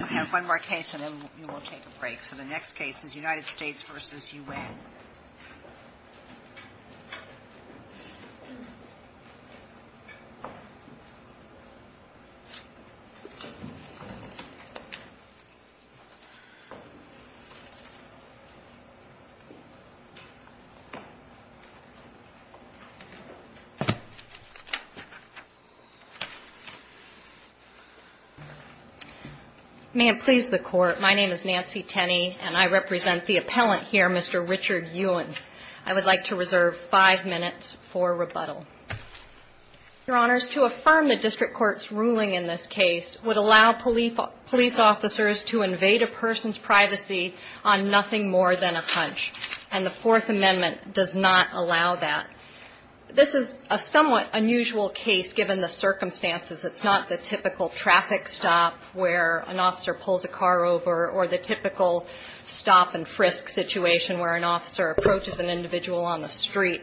I have one more case and then we'll take a break. So the next case is United States v. Yuen. May it please the Court, my name is Nancy Tenney and I represent the appellant here, Mr. Richard Yuen. I would like to reserve five minutes for rebuttal. Your Honors, to affirm the District Court's ruling in this case would allow police officers to invade a person's privacy on nothing more than a hunch. And the Fourth Amendment does not allow that. This is a somewhat unusual case given the circumstances. It's not the typical traffic stop where an officer pulls a car over or the typical stop-and-frisk situation where an officer approaches an individual on the street.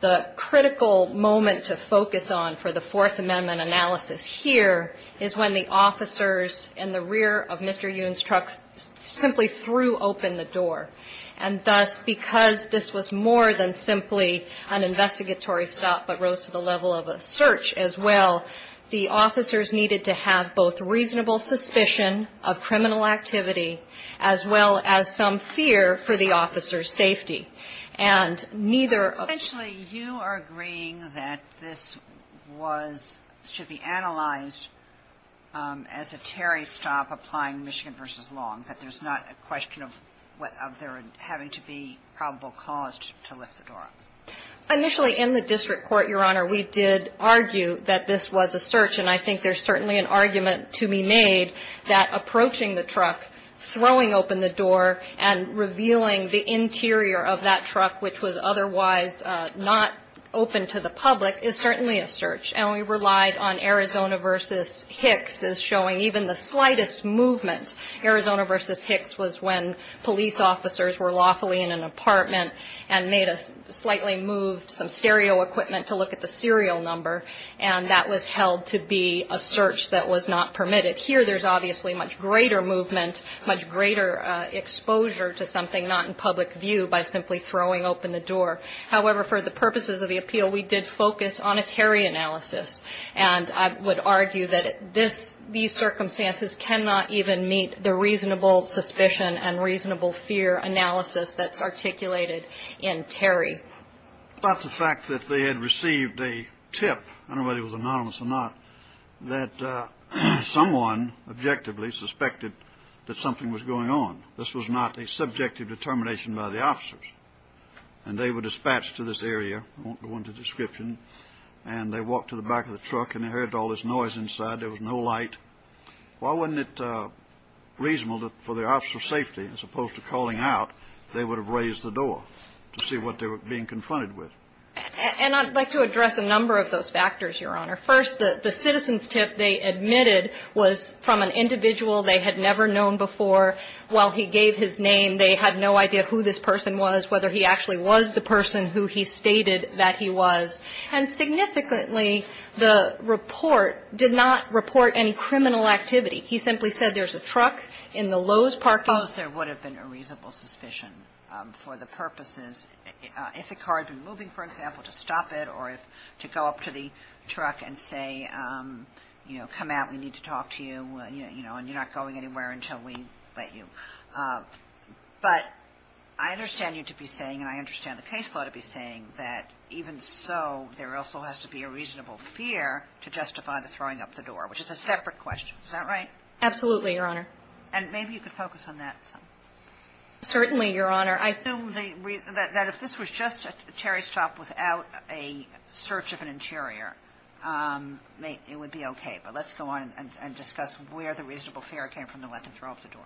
The critical moment to focus on for the Fourth Amendment analysis here is when the officers in the rear of Mr. Yuen's truck simply threw open the door. And thus, because this was more than simply an investigatory stop but rose to the level of a search as well, the officers needed to have both reasonable suspicion of criminal activity as well as some fear for the officer's safety. And neither of... Initially, in the District Court, Your Honor, we did argue that this was a search. And I think there's certainly an argument to be made that approaching the truck, throwing open the door, and revealing the interior of that truck, which was otherwise not open to the public, is certainly a search. And we relied on Arizona v. Hicks as showing even the slightest movement. Arizona v. Hicks was when police officers were lawfully in an apartment and made a slightly moved some stereo equipment to look at the serial number, and that was held to be a search that was not permitted. Here, there's obviously much greater movement, much greater exposure to something not in public view by simply throwing open the door. However, for the purposes of the appeal, we did focus on a Terry analysis. And I would argue that these circumstances cannot even meet the reasonable suspicion and reasonable fear analysis that's articulated in Terry. About the fact that they had received a tip, I don't know whether it was anonymous or not, that someone objectively suspected that something was going on. This was not a subjective determination by the officers. And they were dispatched to this area. I won't go into description. And they walked to the back of the truck, and they heard all this noise inside. There was no light. Why wasn't it reasonable for the officer of safety, as opposed to calling out, they would have raised the door to see what they were being confronted with? And I'd like to address a number of those factors, Your Honor. First, the citizen's tip they admitted was from an individual they had never known before. While he gave his name, they had no idea who this person was, whether he actually was the person who he stated that he was. And significantly, the report did not report any criminal activity. He simply said there's a truck in the Lowe's parking lot. Suppose there would have been a reasonable suspicion for the purposes. If the car had been moving, for example, to stop it or to go up to the truck and say, you know, But I understand you to be saying, and I understand the case law to be saying, that even so, there also has to be a reasonable fear to justify the throwing up the door, which is a separate question. Is that right? Absolutely, Your Honor. And maybe you could focus on that some. Certainly, Your Honor. I assume that if this was just a cherry shop without a search of an interior, it would be okay. But let's go on and discuss where the reasonable fear came from to let them throw up the door.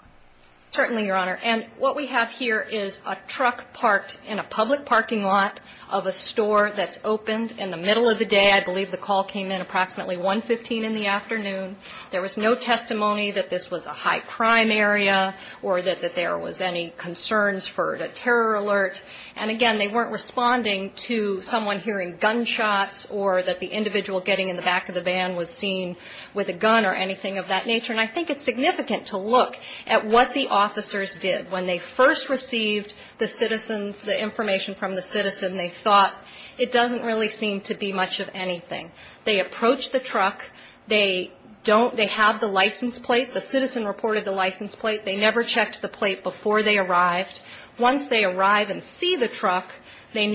Certainly, Your Honor. And what we have here is a truck parked in a public parking lot of a store that's opened in the middle of the day. I believe the call came in approximately 115 in the afternoon. There was no testimony that this was a high crime area or that there was any concerns for a terror alert. And again, they weren't responding to someone hearing gunshots or that the individual getting in the back of the van was seen with a gun or anything of that nature. And I think it's significant to look at what the officers did. When they first received the citizens, the information from the citizen, they thought it doesn't really seem to be much of anything. They approached the truck. They have the license plate. The citizen reported the license plate. They never checked the plate before they arrived. Once they arrive and see the truck, they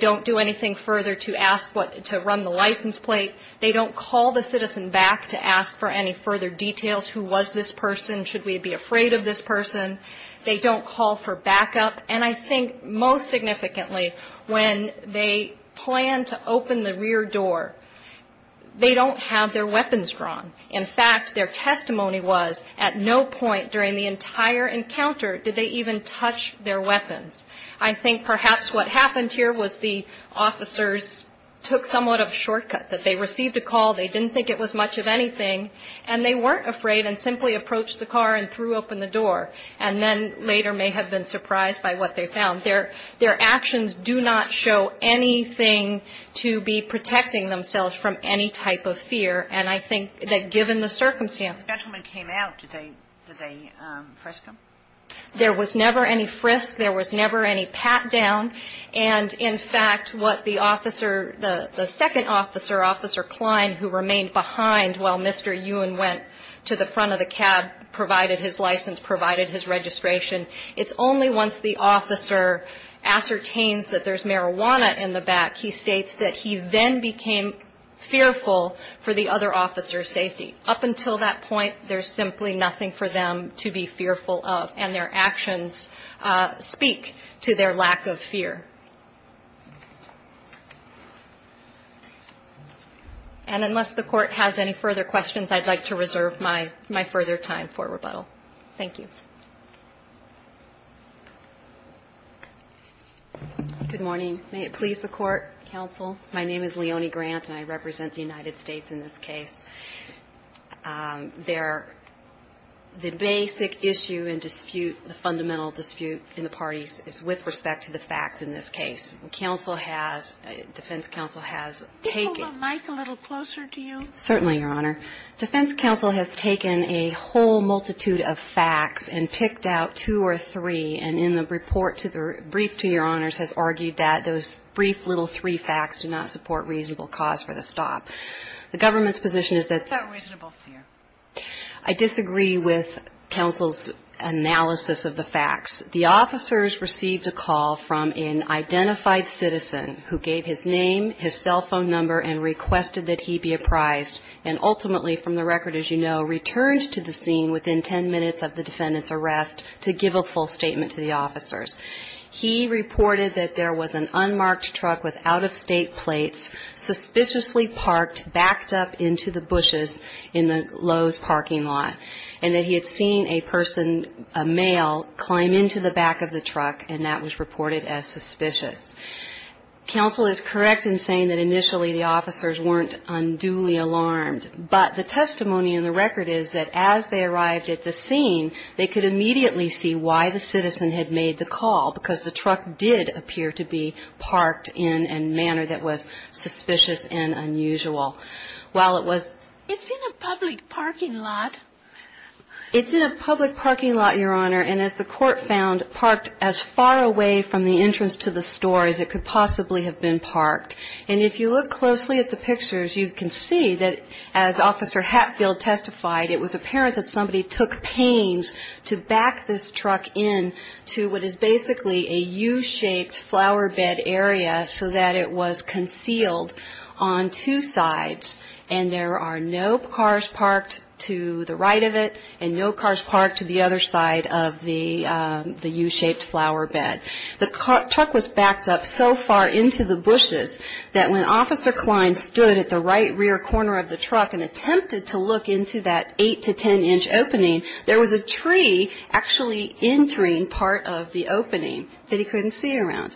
don't do anything further to run the license plate. They don't call the citizen back to ask for any further details. Who was this person? Should we be afraid of this person? They don't call for backup. And I think most significantly, when they plan to open the rear door, they don't have their weapons drawn. In fact, their testimony was at no point during the entire encounter did they even touch their weapons. I think perhaps what happened here was the officers took somewhat of a shortcut, that they received a call, they didn't think it was much of anything, and they weren't afraid and simply approached the car and threw open the door and then later may have been surprised by what they found. Their actions do not show anything to be protecting themselves from any type of fear. And I think that given the circumstances. When the gentleman came out, did they frisk him? There was never any frisk. There was never any pat down. And, in fact, what the officer, the second officer, Officer Klein, who remained behind while Mr. Ewen went to the front of the cab, provided his license, provided his registration, it's only once the officer ascertains that there's marijuana in the back, he states that he then became fearful for the other officer's safety. Up until that point, there's simply nothing for them to be fearful of, and their actions speak to their lack of fear. And unless the Court has any further questions, I'd like to reserve my further time for rebuttal. Thank you. Good morning. May it please the Court, counsel. My name is Leonie Grant, and I represent the United States in this case. The basic issue and dispute, the fundamental dispute in the parties is with respect to the facts in this case. Counsel has, defense counsel has taken. Could you hold the mic a little closer to you? Certainly, Your Honor. Defense counsel has taken a whole multitude of facts and picked out two or three, and in the report to the brief to Your Honors, has argued that those brief little three facts do not support reasonable cause for the stop. The government's position is that. What about reasonable fear? I disagree with counsel's analysis of the facts. The officers received a call from an identified citizen who gave his name, his cell phone number, and requested that he be apprised, and ultimately, from the record, as you know, returned to the scene within ten minutes of the defendant's arrest to give a full statement to the officers. He reported that there was an unmarked truck with out-of-state plates, suspiciously parked, backed up into the bushes in the Lowe's parking lot, and that he had seen a person, a male, climb into the back of the truck, and that was reported as suspicious. Counsel is correct in saying that initially the officers weren't unduly alarmed, but the testimony in the record is that as they arrived at the scene, they could immediately see why the citizen had made the call, because the truck did appear to be parked in a manner that was suspicious and unusual. While it was. It's in a public parking lot. It's in a public parking lot, Your Honor, and as the court found, parked as far away from the entrance to the store as it could possibly have been parked. And if you look closely at the pictures, you can see that as Officer Hatfield testified, it was apparent that somebody took pains to back this truck in to what is basically a U-shaped flower bed area so that it was concealed on two sides, and there are no cars parked to the right of it and no cars parked to the other side of the U-shaped flower bed. The truck was backed up so far into the bushes that when Officer Klein stood at the right rear corner of the truck and attempted to look into that 8 to 10 inch opening, there was a tree actually entering part of the opening that he couldn't see around.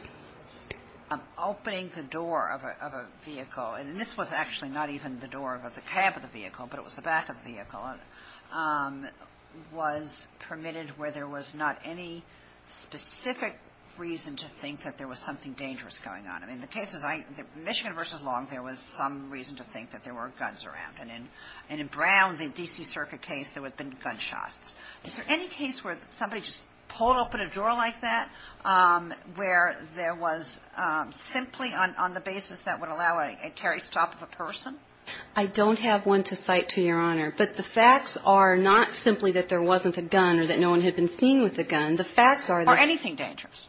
Opening the door of a vehicle, and this was actually not even the door of the cab of the vehicle, but it was the back of the vehicle, was permitted where there was not any specific reason to think that there was something dangerous going on. In the cases, Michigan v. Long, there was some reason to think that there were guns around. And in Brown, the D.C. Circuit case, there would have been gunshots. Is there any case where somebody just pulled open a door like that, where there was simply on the basis that would allow a tarry stop of a person? I don't have one to cite to Your Honor. But the facts are not simply that there wasn't a gun or that no one had been seen with a gun. The facts are that – Are anything dangerous?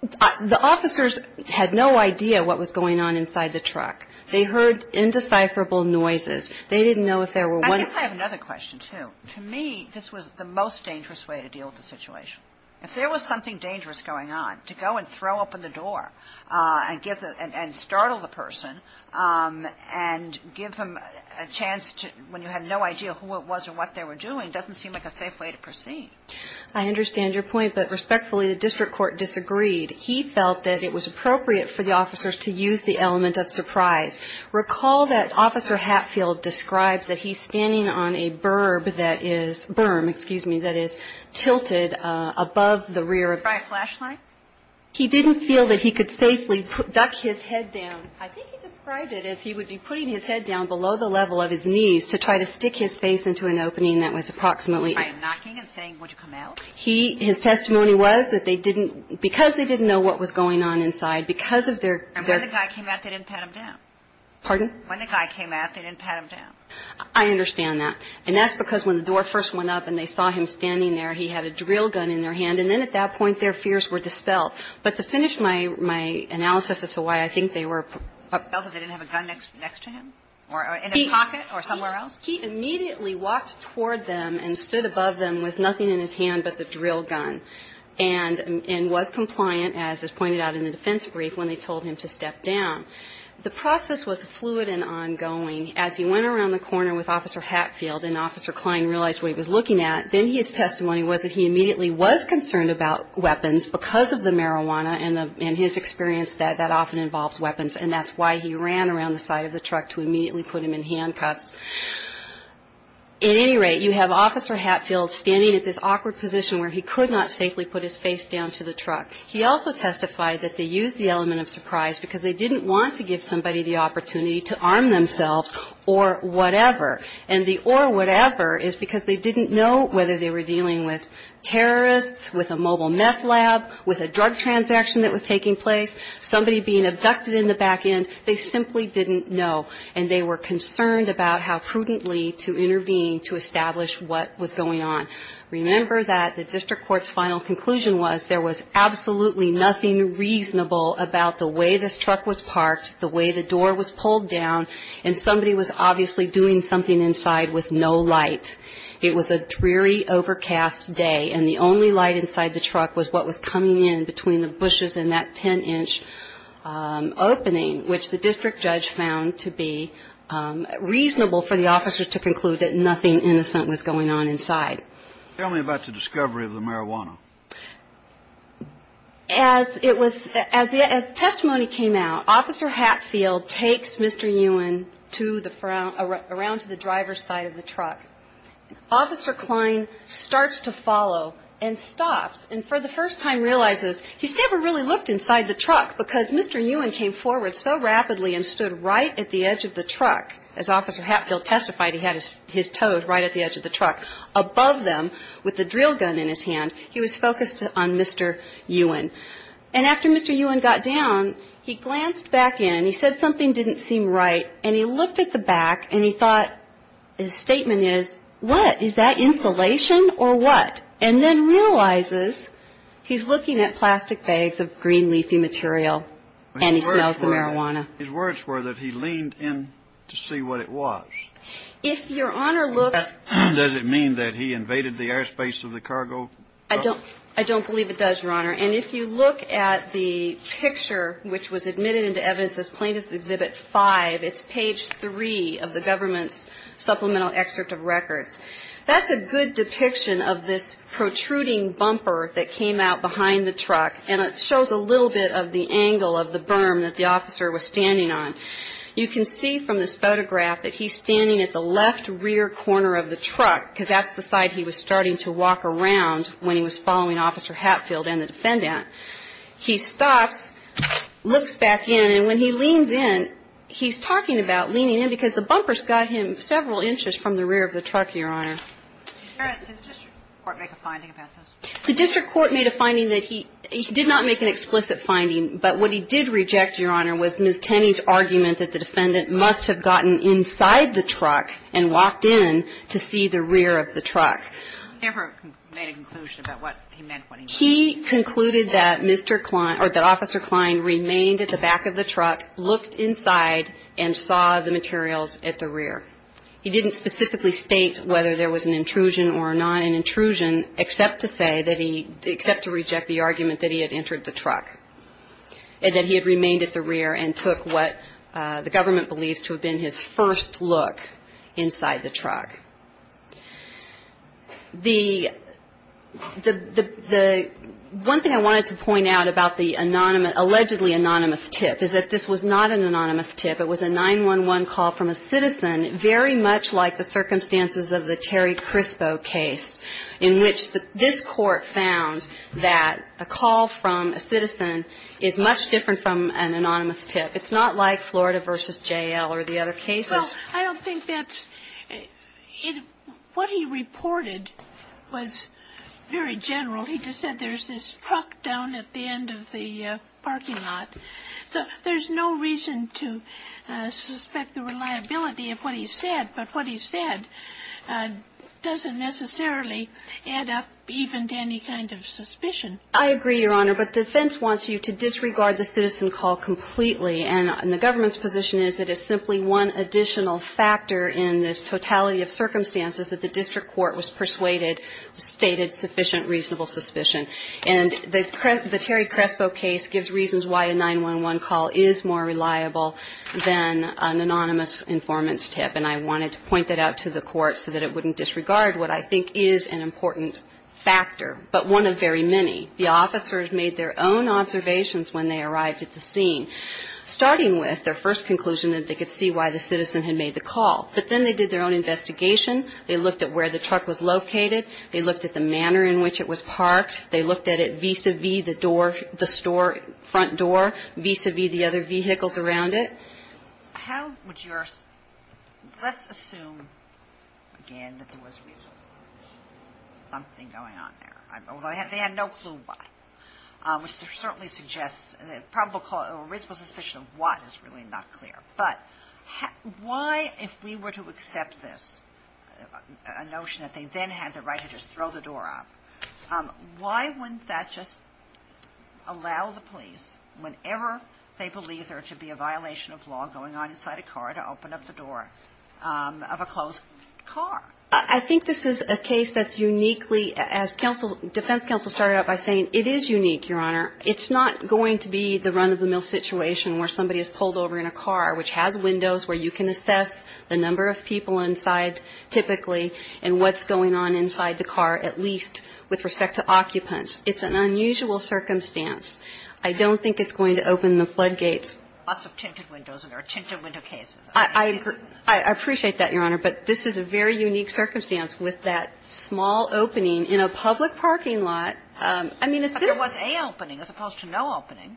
The officers had no idea what was going on inside the truck. They heard indecipherable noises. They didn't know if there were – I guess I have another question, too. To me, this was the most dangerous way to deal with the situation. If there was something dangerous going on, to go and throw open the door and startle the person and give them a chance when you had no idea who it was or what they were doing, doesn't seem like a safe way to proceed. I understand your point. But respectfully, the district court disagreed. He felt that it was appropriate for the officers to use the element of surprise. Recall that Officer Hatfield describes that he's standing on a berm that is tilted above the rear of – Try a flashlight. He didn't feel that he could safely duck his head down. I think he described it as he would be putting his head down below the level of his knees to try to stick his face into an opening that was approximately – By knocking and saying, would you come out? His testimony was that they didn't – because they didn't know what was going on inside, because of their – And when the guy came out, they didn't pat him down. Pardon? When the guy came out, they didn't pat him down. I understand that. And that's because when the door first went up and they saw him standing there, he had a drill gun in their hand, and then at that point their fears were dispelled. But to finish my analysis as to why I think they were – They didn't have a gun next to him? In his pocket or somewhere else? He immediately walked toward them and stood above them with nothing in his hand but the drill gun and was compliant, as is pointed out in the defense brief, when they told him to step down. The process was fluid and ongoing. As he went around the corner with Officer Hatfield and Officer Kline realized what he was looking at, then his testimony was that he immediately was concerned about weapons because of the marijuana and his experience that that often involves weapons, and that's why he ran around the side of the truck to immediately put him in handcuffs. At any rate, you have Officer Hatfield standing at this awkward position where he could not safely put his face down to the truck. He also testified that they used the element of surprise because they didn't want to give somebody the opportunity to arm themselves or whatever. And the or whatever is because they didn't know whether they were dealing with terrorists, with a mobile meth lab, with a drug transaction that was taking place, somebody being abducted in the back end. They simply didn't know. And they were concerned about how prudently to intervene to establish what was going on. Remember that the district court's final conclusion was there was absolutely nothing reasonable about the way this truck was parked, the way the door was pulled down, and somebody was obviously doing something inside with no light. It was a dreary, overcast day, and the only light inside the truck was what was coming in between the bushes and that 10-inch opening, which the district judge found to be reasonable for the officer to conclude that nothing innocent was going on inside. Tell me about the discovery of the marijuana. As testimony came out, Officer Hatfield takes Mr. Ewan around to the driver's side of the truck. Officer Kline starts to follow and stops and for the first time realizes he's never really looked inside the truck because Mr. Ewan came forward so rapidly and stood right at the edge of the truck. As Officer Hatfield testified, he had his toes right at the edge of the truck. Above them, with the drill gun in his hand, he was focused on Mr. Ewan. And after Mr. Ewan got down, he glanced back in, he said something didn't seem right, and he looked at the back and he thought, his statement is, what, is that insulation or what? And then realizes he's looking at plastic bags of green leafy material and he smells the marijuana. His words were that he leaned in to see what it was. Does it mean that he invaded the airspace of the cargo? I don't believe it does, Your Honor. And if you look at the picture which was admitted into evidence as Plaintiff's Exhibit 5, it's page 3 of the government's supplemental excerpt of records. That's a good depiction of this protruding bumper that came out behind the truck and it shows a little bit of the angle of the berm that the officer was standing on. You can see from this photograph that he's standing at the left rear corner of the truck because that's the side he was starting to walk around when he was following Officer Hatfield and the defendant. He stops, looks back in, and when he leans in, he's talking about leaning in because the bumper's got him several inches from the rear of the truck, Your Honor. Did the district court make a finding about this? The district court made a finding that he did not make an explicit finding, but what he did reject, Your Honor, was Ms. Tenney's argument that the defendant must have gotten inside the truck and walked in to see the rear of the truck. He never made a conclusion about what he meant when he said that. He concluded that Mr. Klein or that Officer Klein remained at the back of the truck, looked inside, and saw the materials at the rear. He didn't specifically state whether there was an intrusion or not, an intrusion, except to say that he – except to reject the argument that he had entered the truck. And that he had remained at the rear and took what the government believes to have been his first look inside the truck. The – the – the – one thing I wanted to point out about the anonymous – allegedly anonymous tip is that this was not an anonymous tip. It was a 911 call from a citizen, very much like the circumstances of the Terry Crispo case, in which this Court found that a call from a citizen is much different from an anonymous tip. It's not like Florida v. J.L. or the other cases. Well, I don't think that's – what he reported was very general. He just said there's this truck down at the end of the parking lot. So there's no reason to suspect the reliability of what he said. But what he said doesn't necessarily add up even to any kind of suspicion. I agree, Your Honor. But the defense wants you to disregard the citizen call completely. And the government's position is that it's simply one additional factor in this totality of circumstances that the district court was persuaded – stated sufficient reasonable suspicion. And the – the Terry Crispo case gives reasons why a 911 call is more reliable than an anonymous informant's tip. And I wanted to point that out to the Court so that it wouldn't disregard what I think is an important factor, but one of very many. The officers made their own observations when they arrived at the scene, starting with their first conclusion that they could see why the citizen had made the call. But then they did their own investigation. They looked at where the truck was located. They looked at the manner in which it was parked. They looked at it vis-à-vis the door – the store front door, vis-à-vis the other vehicles around it. How would your – let's assume, again, that there was reasonable suspicion of something going on there. Although they had no clue why, which certainly suggests – a reasonable suspicion of what is really not clear. But why, if we were to accept this, a notion that they then had the right to just throw the door up, why wouldn't that just allow the police, whenever they believe there to be a violation of law going on inside a car, to open up the door of a closed car? I think this is a case that's uniquely – as defense counsel started out by saying, it is unique, Your Honor. It's not going to be the run-of-the-mill situation where somebody is pulled over in a car, which has windows where you can assess the number of people inside, typically, and what's going on inside the car, at least with respect to occupants. It's an unusual circumstance. I don't think it's going to open the floodgates. Lots of tinted windows in our tinted window cases. I appreciate that, Your Honor. But this is a very unique circumstance with that small opening in a public parking lot. I mean, a citizen – But there was a opening as opposed to no opening.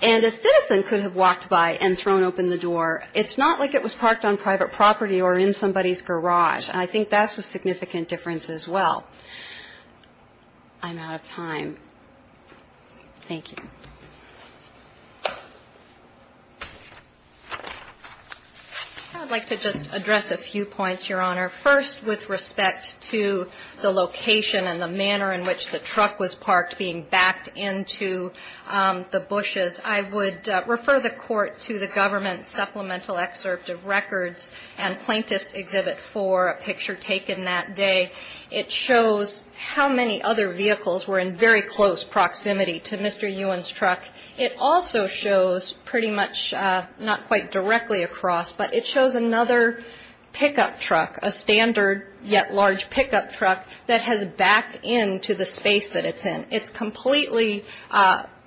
And a citizen could have walked by and thrown open the door. It's not like it was parked on private property or in somebody's garage. And I think that's a significant difference as well. I'm out of time. Thank you. I'd like to just address a few points, Your Honor. First, with respect to the location and the manner in which the truck was parked being backed into the bushes, I would refer the Court to the Government Supplemental Excerpt of Records and Plaintiff's Exhibit 4, a picture taken that day. It shows how many other vehicles were in very close proximity to Mr. Ewen's truck. It also shows pretty much not quite directly across, but it shows another pickup truck, a standard yet large pickup truck that has backed into the space that it's in. It's completely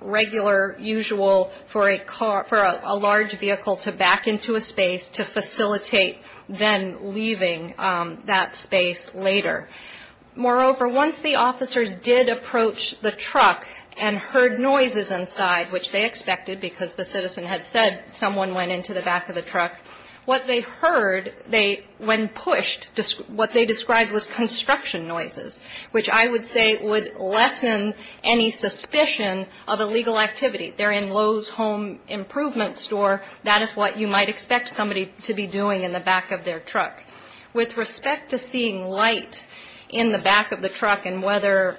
regular, usual for a large vehicle to back into a space to facilitate then leaving that space later. Moreover, once the officers did approach the truck and heard noises inside, which they expected because the citizen had said someone went into the back of the truck, what they heard when pushed, what they described was construction noises, which I would say would lessen any suspicion of illegal activity. They're in Lowe's Home Improvement Store. That is what you might expect somebody to be doing in the back of their truck. With respect to seeing light in the back of the truck and whether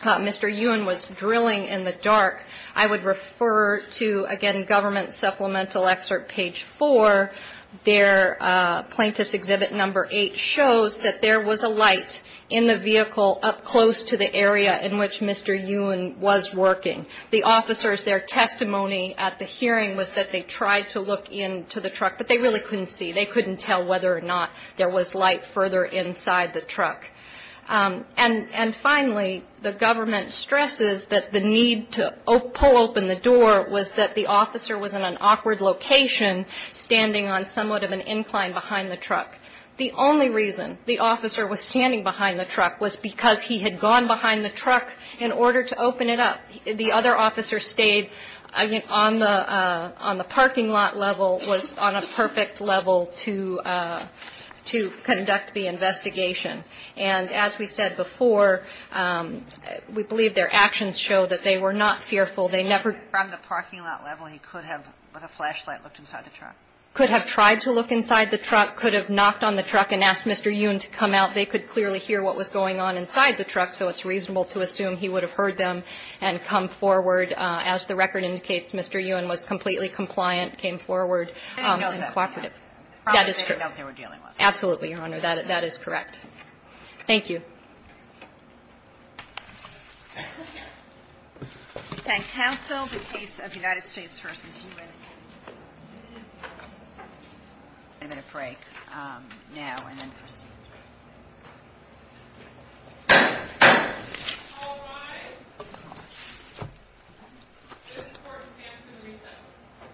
Mr. Ewen was drilling in the dark, I would refer to, again, Government Supplemental Excerpt, Page 4. Plaintiff's Exhibit No. 8 shows that there was a light in the vehicle up close to the area in which Mr. Ewen was working. The officers, their testimony at the hearing was that they tried to look into the truck, but they really couldn't see. They couldn't tell whether or not there was light further inside the truck. And finally, the government stresses that the need to pull open the door was that the officer was in an awkward location, standing on somewhat of an incline behind the truck. The only reason the officer was standing behind the truck was because he had gone behind the truck in order to open it up. The other officer stayed on the parking lot level, was on a perfect level to conduct the investigation. And as we said before, we believe their actions show that they were not fearful. They never ---- From the parking lot level, he could have, with a flashlight, looked inside the truck. Could have tried to look inside the truck, could have knocked on the truck and asked Mr. Ewen to come out. They could clearly hear what was going on inside the truck, so it's reasonable to assume he would have heard them and come forward. As the record indicates, Mr. Ewen was completely compliant, came forward and cooperated. I didn't know that. That is true. Probably didn't know what they were dealing with. Absolutely, Your Honor. That is correct. Thank you. We thank counsel, the case of United States v. U.S. I'm going to break now and then proceed. All rise. This court stands in recess.